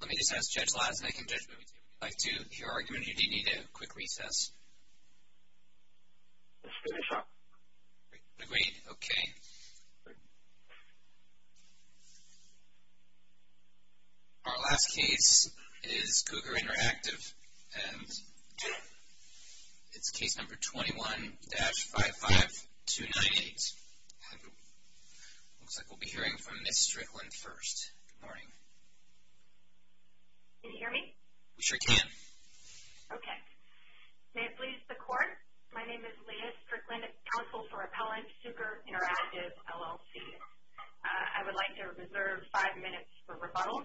Let me just ask Judge Lassen, I think Judge Lassen would like to hear your argument, you do need a quick recess. Let's finish up. Agreed, okay. Our last case is Cuker Interactive and it's case number 21-55298. Looks like we'll be hearing from Ms. Strickland first. Good morning. Can you hear me? We sure can. Okay. May it please the Court, my name is Leah Strickland, Counsel for Appellant, Cuker Interactive, LLC. I would like to reserve five minutes for rebuttal.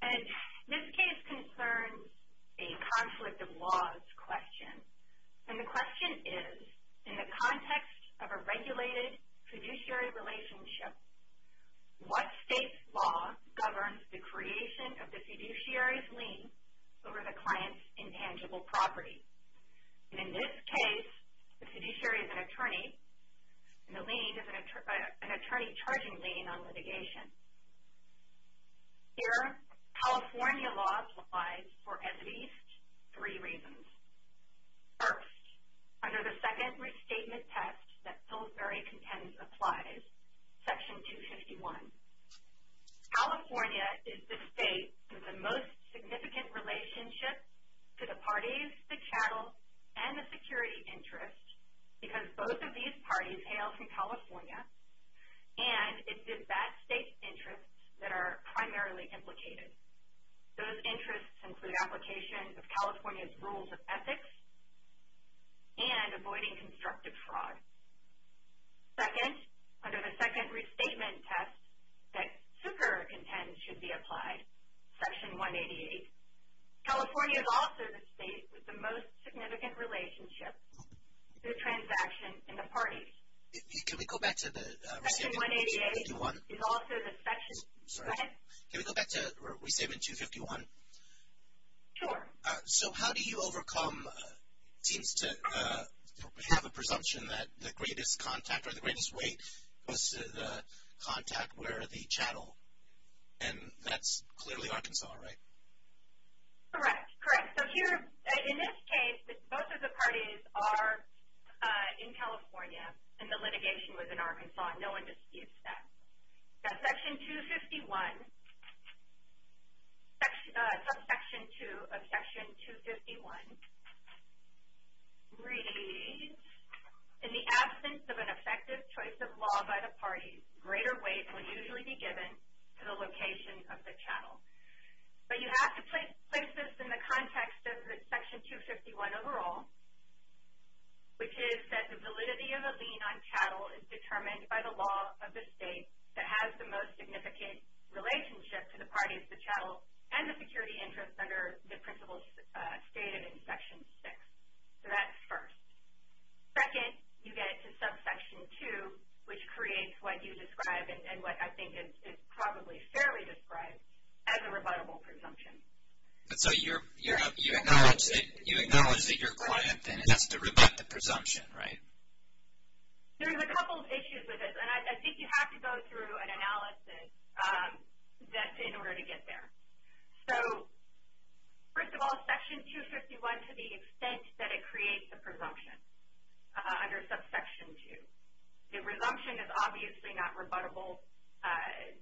And this case concerns a conflict of laws question. And the question is, in the context of a regulated fiduciary relationship, what state's law governs the creation of the fiduciary's lien over the client's intangible property? In this case, the fiduciary is an attorney and the lien is an attorney charging lien on litigation. Here, California law applies for at least three reasons. First, under the second restatement test that Pillsbury contends applies, Section 251, California is the state with the most significant relationship to the parties, the chattel, and the security interest, because both of these parties hail from California, and it's the bad state's interests that are primarily implicated. Those interests include application of California's rules of ethics and avoiding constructive fraud. Second, under the second restatement test that Cuker contends should be applied, Section 188, California is also the state with the most significant relationship to the transaction and the parties. Can we go back to the restatement? Section 188 is also the section, go ahead. Can we go back to restatement 251? Sure. So how do you overcome, it seems to have a presumption that the greatest contact or the greatest weight goes to the contact where the chattel, and that's clearly Arkansas, right? Correct, correct. So here, in this case, both of the parties are in California, and the litigation was in Arkansas. No one disputes that. Now, Section 251, subsection 2 of Section 251 reads, in the absence of an effective choice of law by the parties, greater weight will usually be given to the location of the chattel. But you have to place this in the context of Section 251 overall, which is that the validity of a lien on chattel is determined by the law of the state that has the most significant relationship to the parties, the chattel, and the security interests under the principle stated in Section 6. So that's first. Second, you get to subsection 2, which creates what you describe and what I think is probably fairly described as a rebuttable presumption. So you acknowledge that your client then has to rebut the presumption, right? There's a couple of issues with this, and I think you have to go through an analysis in order to get there. So first of all, Section 251, to the extent that it creates a presumption under subsection 2, the presumption is obviously not rebuttable.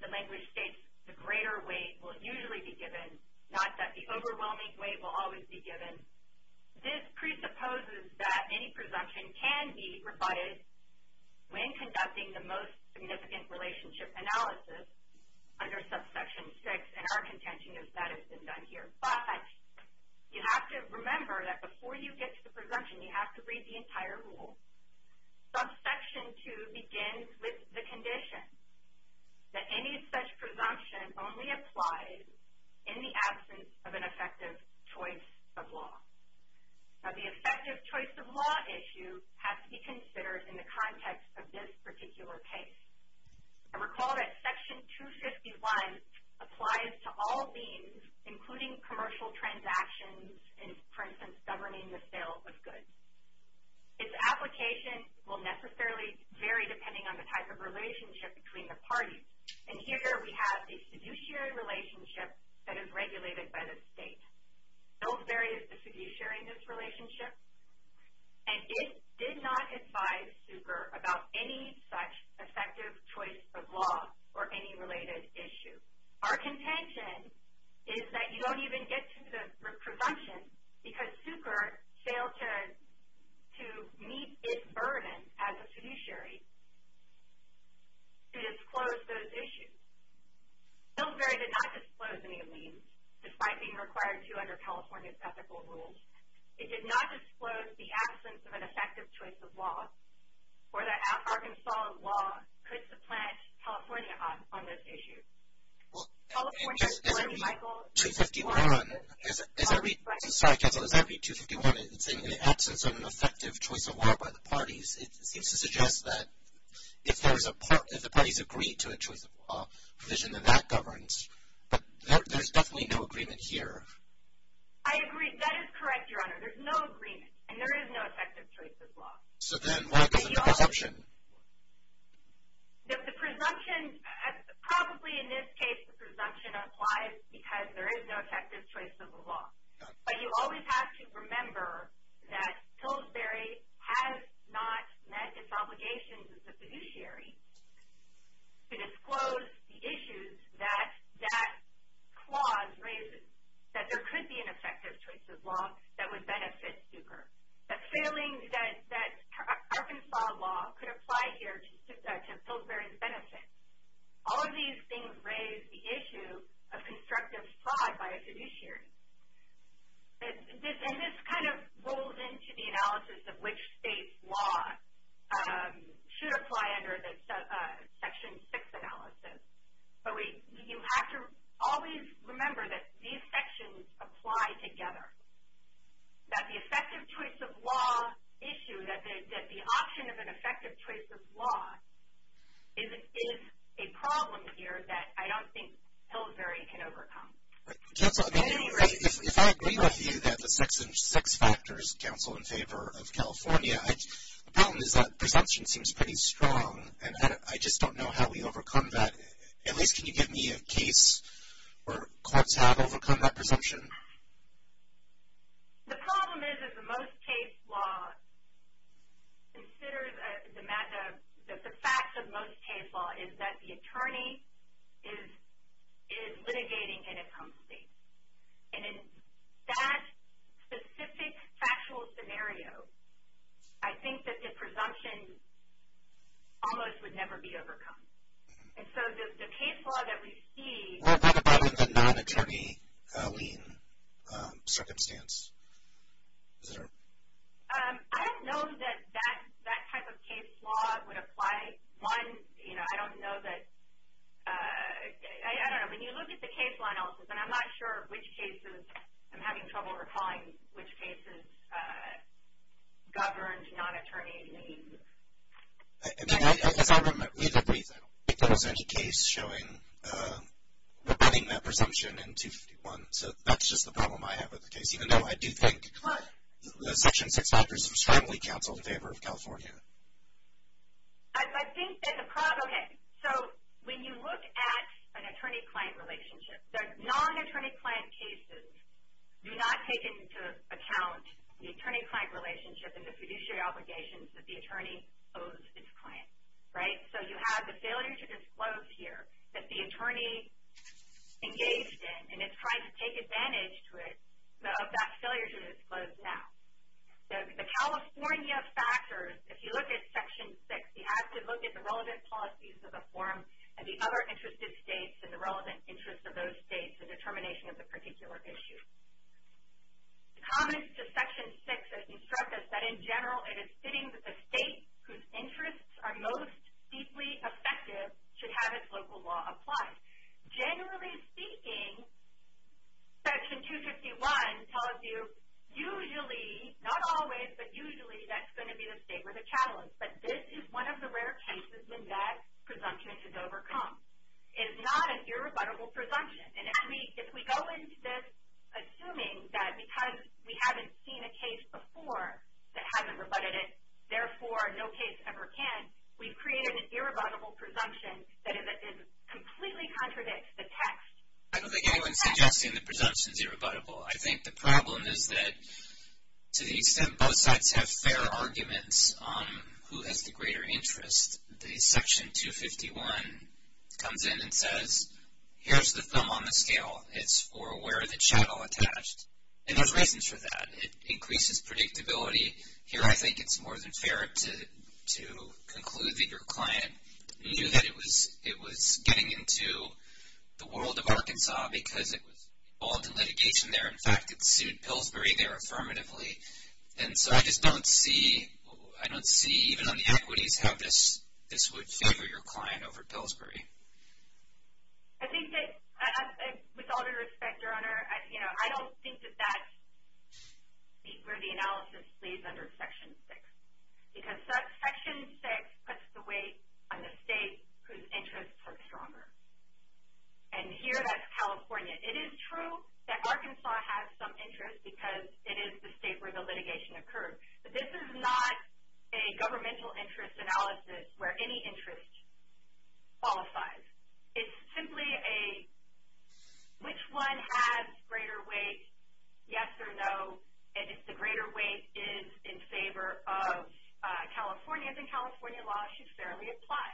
The language states the greater weight will usually be given, not that the overwhelming weight will always be given. This presupposes that any presumption can be rebutted when conducting the most significant relationship analysis under subsection 6, and our contention is that has been done here. But you have to remember that before you get to the presumption, you have to read the entire rule. Subsection 2 begins with the condition that any such presumption only applies in the absence of an effective choice of law. Now the effective choice of law issue has to be considered in the context of this particular case. And recall that Section 251 applies to all liens, including commercial transactions and, for instance, governing the sale of goods. Its application will necessarily vary depending on the type of relationship between the parties. And here we have a fiduciary relationship that is regulated by the state. Don't vary the fiduciary in this relationship. And it did not advise SUCR about any such effective choice of law or any related issue. Our contention is that you don't even get to the presumption because SUCR failed to meet its burden as a fiduciary to disclose those issues. Hillsbury did not disclose any liens, despite being required to under California's ethical rules. It did not disclose the absence of an effective choice of law or that Arkansas law could supplant California on those issues. Well, as I read 251, it's in the absence of an effective choice of law by the parties. It seems to suggest that if the parties agree to a choice of law provision, then that governs. But there's definitely no agreement here. I agree. That is correct, Your Honor. There's no agreement. And there is no effective choice of law. So then what about the presumption? The presumption, probably in this case, the presumption applies because there is no effective choice of law. But you always have to remember that Hillsbury has not met its obligations as a fiduciary to disclose the issues that that clause raises, that there could be an effective choice of law that would benefit SUCR. The feeling that Arkansas law could apply here to Hillsbury's benefit. All of these things raise the issue of constructive fraud by a fiduciary. And this kind of rolls into the analysis of which state's law should apply under the Section 6 analysis. But you have to always remember that these sections apply together. That the effective choice of law issue, that the option of an effective choice of law, is a problem here that I don't think Hillsbury can overcome. Counsel, if I agree with you that the Section 6 factors counsel in favor of California, the problem is that presumption seems pretty strong. And I just don't know how we overcome that. At least can you give me a case where courts have overcome that presumption? The problem is that the most case law considers the fact that most case law is that the attorney is litigating in a home state. And in that specific factual scenario, I think that the presumption almost would never be overcome. And so the case law that we see... What about in the non-attorney lien circumstance? I don't know that that type of case law would apply. One, I don't know that, I don't know. When you look at the case law analysis, and I'm not sure which cases, I'm having trouble recalling which cases governed non-attorney lien. As I read the brief, I don't think there was any case showing preventing that presumption in 251. So that's just the problem I have with the case, even though I do think the Section 6 factors strongly counsel in favor of California. I think there's a problem here. So when you look at an attorney-client relationship, the non-attorney-client cases do not take into account the attorney-client relationship and the fiduciary obligations that the attorney owes its client. So you have the failure to disclose here that the attorney engaged in, and it's trying to take advantage of that failure to disclose now. The California factors, if you look at Section 6, you have to look at the relevant policies of the forum and the other interested states and the relevant interests of those states in determination of the particular issue. The comments to Section 6 instruct us that, in general, it is fitting that the state whose interests are most deeply effective should have its local law applied. Generally speaking, Section 251 tells you usually, not always, but usually that's going to be the state with a challenge. But this is one of the rare cases when that presumption is overcome. It is not an irrebuttable presumption. And if we go into this assuming that because we haven't seen a case before that hasn't rebutted it, therefore no case ever can, we've created an irrebuttable presumption that completely contradicts the text. I don't think anyone is suggesting the presumption is irrebuttable. I think the problem is that to the extent both sides have fair arguments on who has the greater interest, the Section 251 comes in and says, here's the thumb on the scale. It's for where the chattel attached. And there's reasons for that. It increases predictability. Here I think it's more than fair to conclude that your client knew that it was getting into the world of Arkansas because it was involved in litigation there. In fact, it sued Pillsbury there affirmatively. And so I just don't see, even on the equities, how this would favor your client over Pillsbury. With all due respect, Your Honor, I don't think that that's where the analysis lays under Section 6 because Section 6 puts the weight on the state whose interests are stronger. And here that's California. It is true that Arkansas has some interest because it is the state where the litigation occurred. But this is not a governmental interest analysis where any interest qualifies. It's simply a which one has greater weight, yes or no, and if the greater weight is in favor of California, then California law should fairly apply.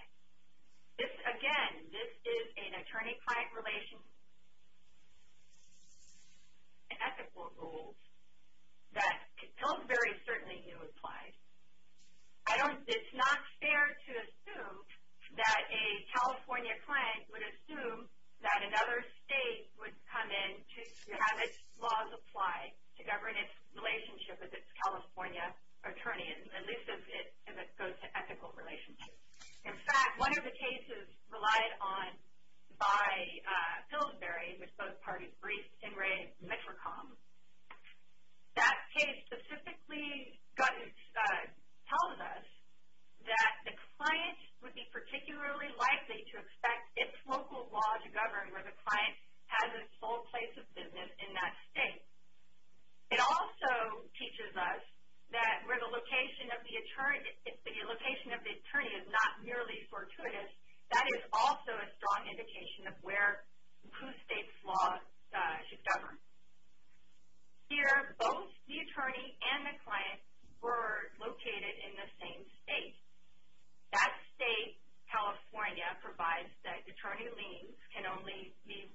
Again, this is an attorney-client relationship and ethical rule that Pillsbury certainly knew applied. It's not fair to assume that a California client would assume that another state would come in to have its laws apply to govern its relationship with its California attorney, at least as it goes to ethical relationships. In fact, one of the cases relied on by Pillsbury, which both parties briefed in Ray Mitricom, that case specifically tells us that the client would be particularly likely to expect its local law to govern where the client has its sole place of business in that state. It also teaches us that where the location of the attorney is not merely fortuitous, that is also a strong indication of where whose state's law should govern. Here, both the attorney and the client were located in the same state. That state, California, provides that attorney liens can only be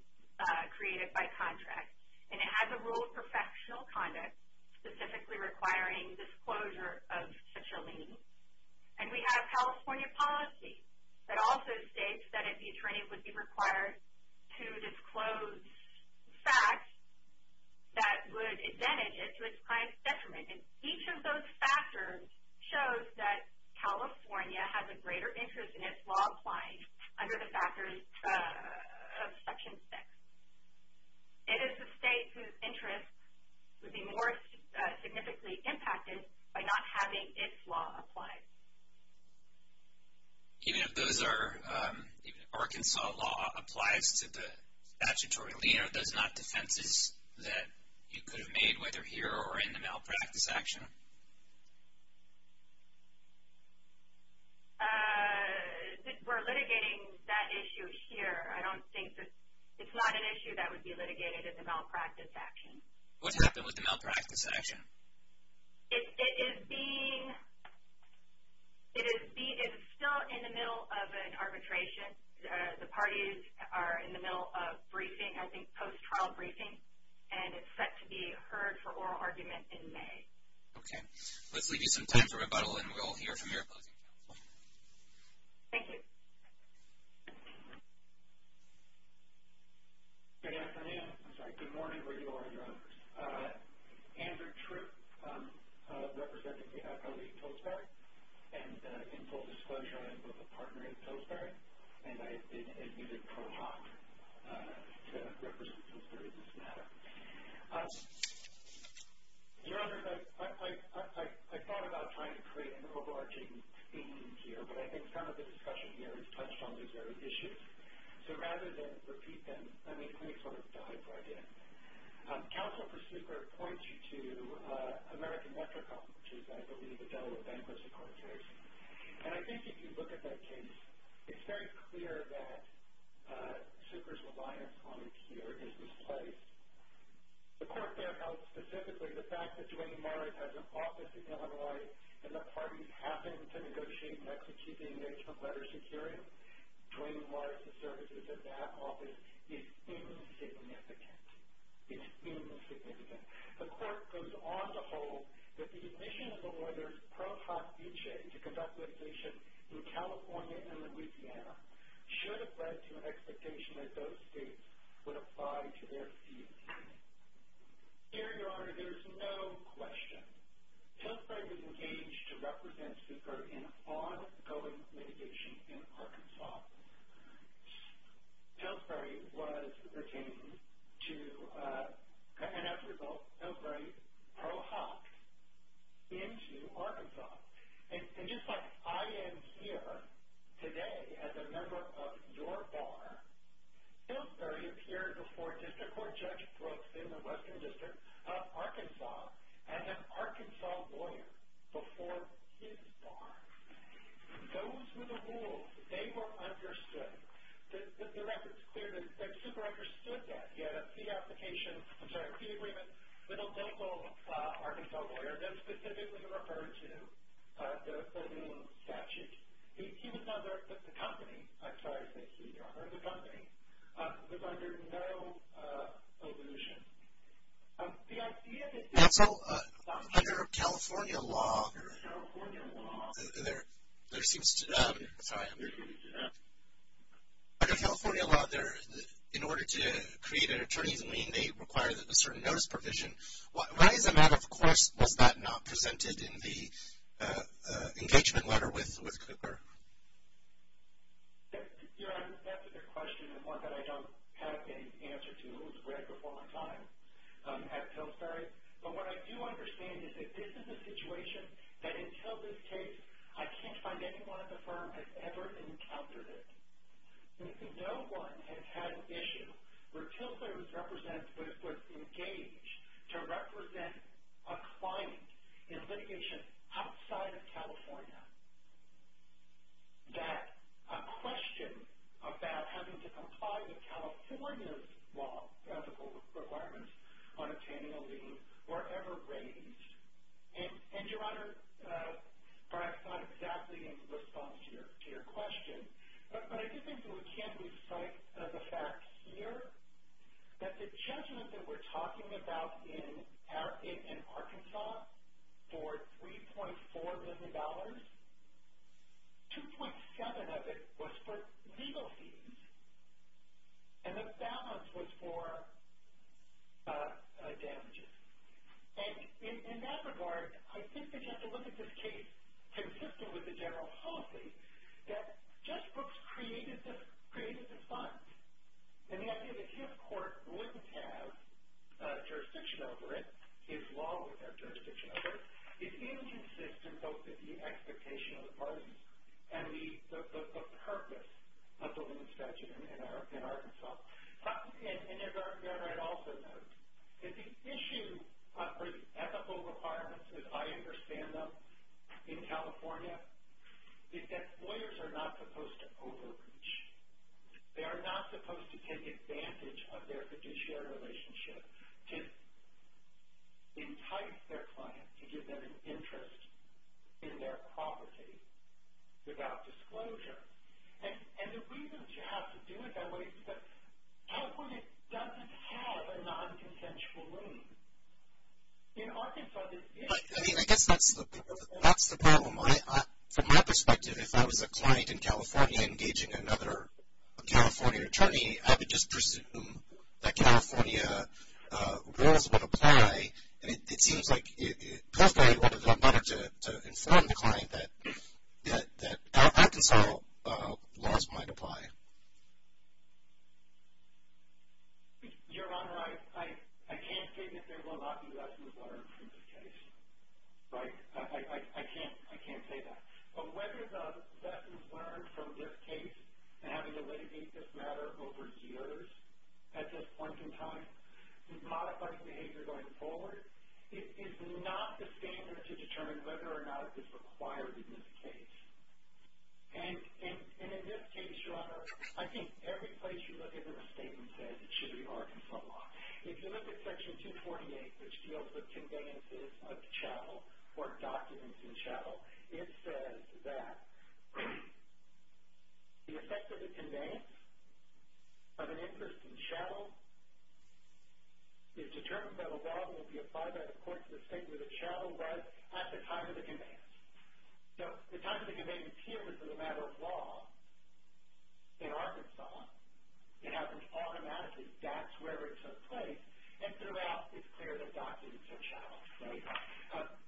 created by contract. And it has a rule of professional conduct specifically requiring disclosure of such a lien. And we have California policy that also states that the attorney would be required to disclose facts that would advantage it to its client's detriment. And each of those factors shows that California has a greater interest in its law applying under the factors of Section 6. It is the state whose interest would be more significantly impacted by not having its law applied. Even if Arkansas law applies to the statutory lien, are those not defenses that you could have made, whether here or in the malpractice action? We're litigating that issue here. I don't think that it's not an issue that would be litigated in the malpractice action. What's happened with the malpractice action? It is still in the middle of an arbitration. The parties are in the middle of briefing, I think post-trial briefing, and it's set to be heard for oral argument in May. Okay. Let's leave you some time for rebuttal, and we'll hear from your opposing counsel. Thank you. Good afternoon. I'm sorry. Good morning where you are, Your Honors. Andrew Tripp, representing the FOA in Tolstoy, and in full disclosure, I am both a partner in Tolstoy, and I have been admitted pro hoc to represent Tolstoy in this matter. Your Honors, I thought about trying to create an overarching theme here, but I think some of the discussion here has touched on these very issues. So rather than repeat them, let me sort of dive right in. Counsel for Super points you to American Metrocom, which is, I believe, a Delaware bankruptcy court case. And I think if you look at that case, it's very clear that Super's reliance on it here is misplaced. The court there held specifically the fact that Duane Morris has an office in Illinois and that parties happen to negotiate next to keep the engagement letter secure. Duane Morris's services at that office is insignificant. It's insignificant. The court goes on to hold that the admission of a lawyer's pro hoc visa to conduct litigation in California and Louisiana should have led to an expectation that those states would apply to their fees. Here, Your Honor, there is no question. Pillsbury was engaged to represent Super in ongoing litigation in Arkansas. Pillsbury was retained to, and as a result, Pillsbury pro hoc'ed into Arkansas. And just like I am here today as a member of your bar, Pillsbury appeared before District Court Judge Brooks in the Western District of Arkansas, and an Arkansas lawyer before his bar. Those were the rules. They were understood. The record's clear that Super understood that. He had a fee application, I'm sorry, a fee agreement with a local Arkansas lawyer that specifically referred to the rule of statute. He was under, the company, I'm sorry to say, Your Honor, the company, was under no illusion. Counsel, under California law, there seems to, sorry, under California law, in order to create an attorney's lien, they require a certain notice provision. Why is that, of course, was that not presented in the engagement letter with Cooper? Your Honor, that's a good question and one that I don't have an answer to. It was read before my time at Pillsbury. But what I do understand is that this is a situation that until this case, I can't find anyone at the firm that's ever encountered it. No one has had an issue where Pillsbury was represented, was engaged to represent a client in litigation outside of California, that a question about having to comply with California's law, ethical requirements on obtaining a lien, were ever raised. And, Your Honor, perhaps not exactly in response to your question, but I do think it can be cited as a fact here that the judgment that we're talking about in Arkansas for $3.4 million, 2.7 of it was for legal fees, and the balance was for damages. And in that regard, I think that you have to look at this case consistent with the general policy that Judge Brooks created the funds. And the idea that his court wouldn't have jurisdiction over it, his law wouldn't have jurisdiction over it, is inconsistent both with the expectation of the parties and the purpose of the lien statute in Arkansas. And, Your Honor, I'd also note that the issue for the ethical requirements, as I understand them, in California is that lawyers are not supposed to overreach. They are not supposed to take advantage of their fiduciary relationship to entice their client, to give them an interest in their property without disclosure. And the reasons you have to do it that way is because California doesn't have a non-consensual lien. In Arkansas, there is. I mean, I guess that's the problem. From my perspective, if I was a client in California engaging another California attorney, I would just presume that California rules would apply, and it seems like it probably would have been better to inform the client that Arkansas laws might apply. Your Honor, I can't state that there will not be lessons learned from this case. Right? I can't say that. But whether the lessons learned from this case, and having to litigate this matter over years at this point in time, and modifying behavior going forward, is not the standard to determine whether or not it is required in this case. And in this case, Your Honor, I think every place you look at this statement says it should be Arkansas law. If you look at Section 248, which deals with conveyances of chattel or documents in chattel, it says that the effect of the conveyance of an interest in chattel is determined by the law and will be applied by the court to the state where the chattel was at the time of the conveyance. So the time of the conveyance here is a matter of law in Arkansas. It happens automatically. That's where it took place. And throughout, it's clear that documents are chattel. Right?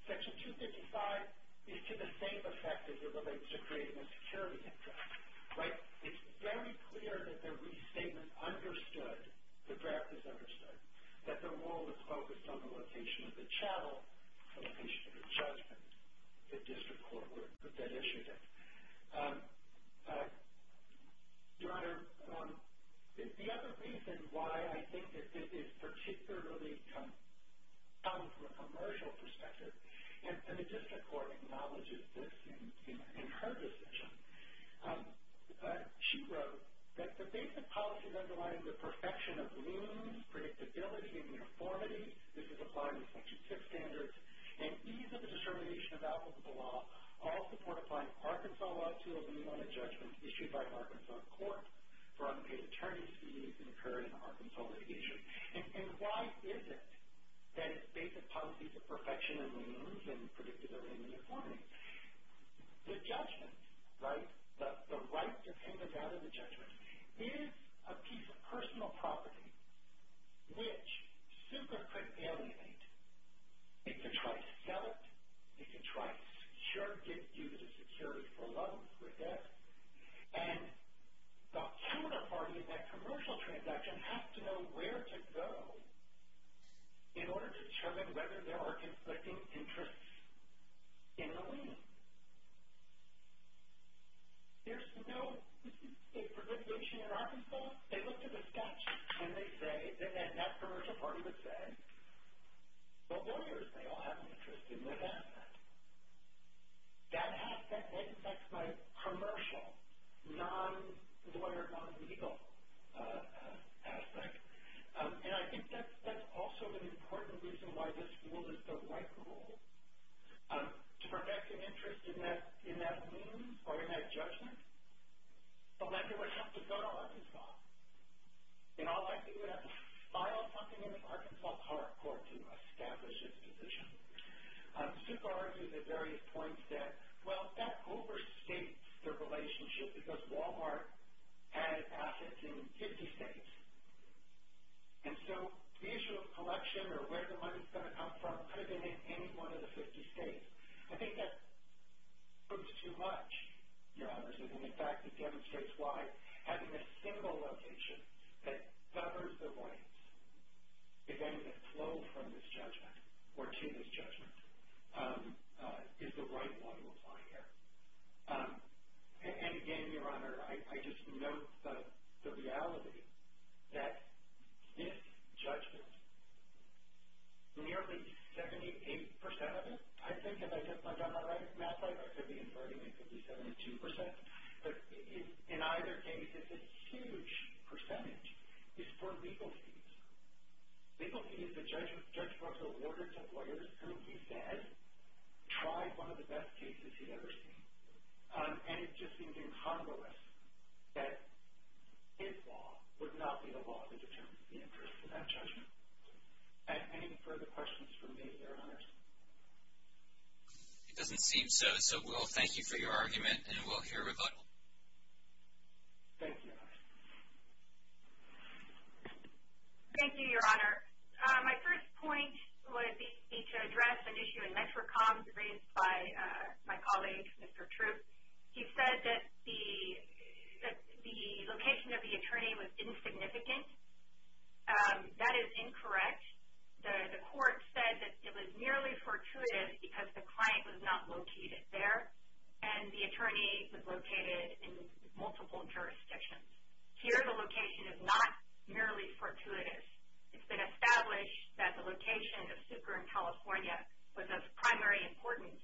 Section 255 is to the same effect as it relates to creating a security interest. Right? It's very clear that the restatement understood, the draft is understood, that the rule is focused on the location of the chattel, location of the judgment, the district court would have then issued it. Your Honor, the other reason why I think that this is particularly common from a commercial perspective, and the district court acknowledges this in her decision, she wrote that the basic policies underlying the perfection of means, predictability, and uniformity, this is applied in Section 6 standards, and ease of the discrimination of applicable law, all support applying Arkansas law to a minimum of judgment issued by an Arkansas court for unpaid attorney's fees incurred in Arkansas litigation. And why is it that basic policies of perfection and means and predictability and uniformity, the judgment, right, the right to take advantage of the judgment, is a piece of personal property which super could alienate. It could try to sell it. It could try to secure it, use it as security for love or death. And the owner party of that commercial transaction has to know where to go in order to determine whether there are conflicting interests in the lien. There's no, let's just say for litigation in Arkansas, they look to the statute, and they say, and that commercial party would say, well, lawyers, they all have an interest in this aspect. That aspect, that affects my commercial, non-lawyer, non-legal aspect. And I think that's also an important reason why this rule is the right rule. To perfect an interest in that means or in that judgment, a lender would have to go to Arkansas. And all they have to do is file something in an Arkansas court to establish its position. Super argues at various points that, well, that overstates their relationship because Walmart has assets in 50 states. And so the issue of collection or where the money is going to come from could have been in any one of the 50 states. I think that proves too much, Your Honors, and, in fact, it demonstrates why having a single location that covers the voids, if anything, flowed from this judgment or to this judgment, is the right one to apply here. And, again, Your Honor, I just note the reality that this judgment, nearly 78 percent of it, I think if I get my math right, I should be inferring it could be 72 percent. But in either case, it's a huge percentage. It's for legal fees. Legal fees, the judge brought the order to lawyers who, he said, tried one of the best cases he'd ever seen. And it just seemed incongruous that his law would not be the law that determines the interest in that judgment. Any further questions from me, Your Honors? It doesn't seem so, so we'll thank you for your argument, and we'll hear rebuttal. Thank you, Your Honors. Thank you, Your Honor. My first point would be to address an issue in METRICOM raised by my colleague, Mr. Troop. He said that the location of the attorney was insignificant. That is incorrect. The court said that it was merely fortuitous because the client was not located there and the attorney was located in multiple jurisdictions. Here, the location is not merely fortuitous. It's been established that the location of Super in California was of primary importance,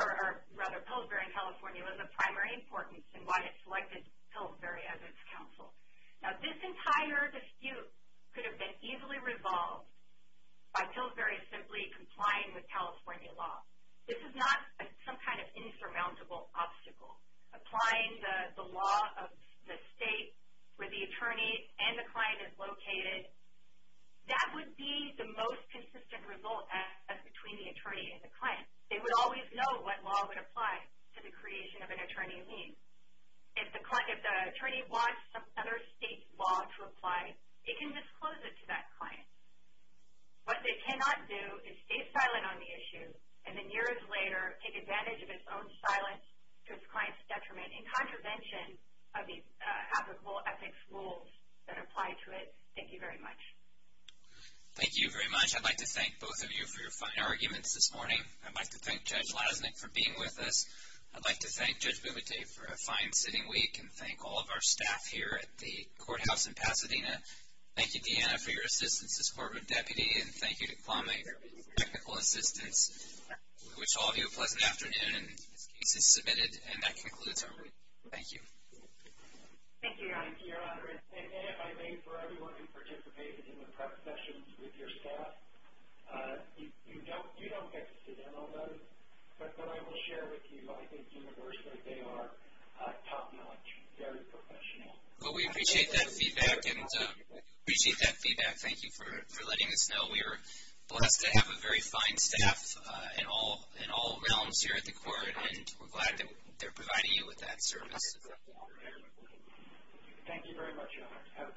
or rather, Pillsbury in California was of primary importance in why it selected Pillsbury as its counsel. Now, this entire dispute could have been easily resolved by Pillsbury simply complying with California law. This is not some kind of insurmountable obstacle. Applying the law of the state where the attorney and the client is located, that would be the most consistent result as between the attorney and the client. They would always know what law would apply to the creation of an attorney lien. If the attorney wants some other state law to apply, it can disclose it to that client. What they cannot do is stay silent on the issue and then years later take advantage of its own silence to its client's detriment in contravention of these applicable ethics rules that apply to it. Thank you very much. Thank you very much. I'd like to thank both of you for your fine arguments this morning. I'd like to thank Judge Lasnik for being with us. I'd like to thank Judge Bumate for a fine sitting week and thank all of our staff here at the courthouse in Pasadena. Thank you, Deanna, for your assistance as corporate deputy, and thank you to Kwame for his technical assistance. We wish all of you a pleasant afternoon. This case is submitted, and that concludes our meeting. Thank you. Thank you, Your Honor. And if I may, for everyone who participated in the prep sessions with your staff, you don't get to demo those, but then I will share with you, I think universally, they are top-notch, very professional. Well, we appreciate that feedback, and we appreciate that feedback. Thank you for letting us know. We are blessed to have a very fine staff in all realms here at the court, and we're glad that they're providing you with that service. Thank you very much, Your Honor. Have a good evening, everyone.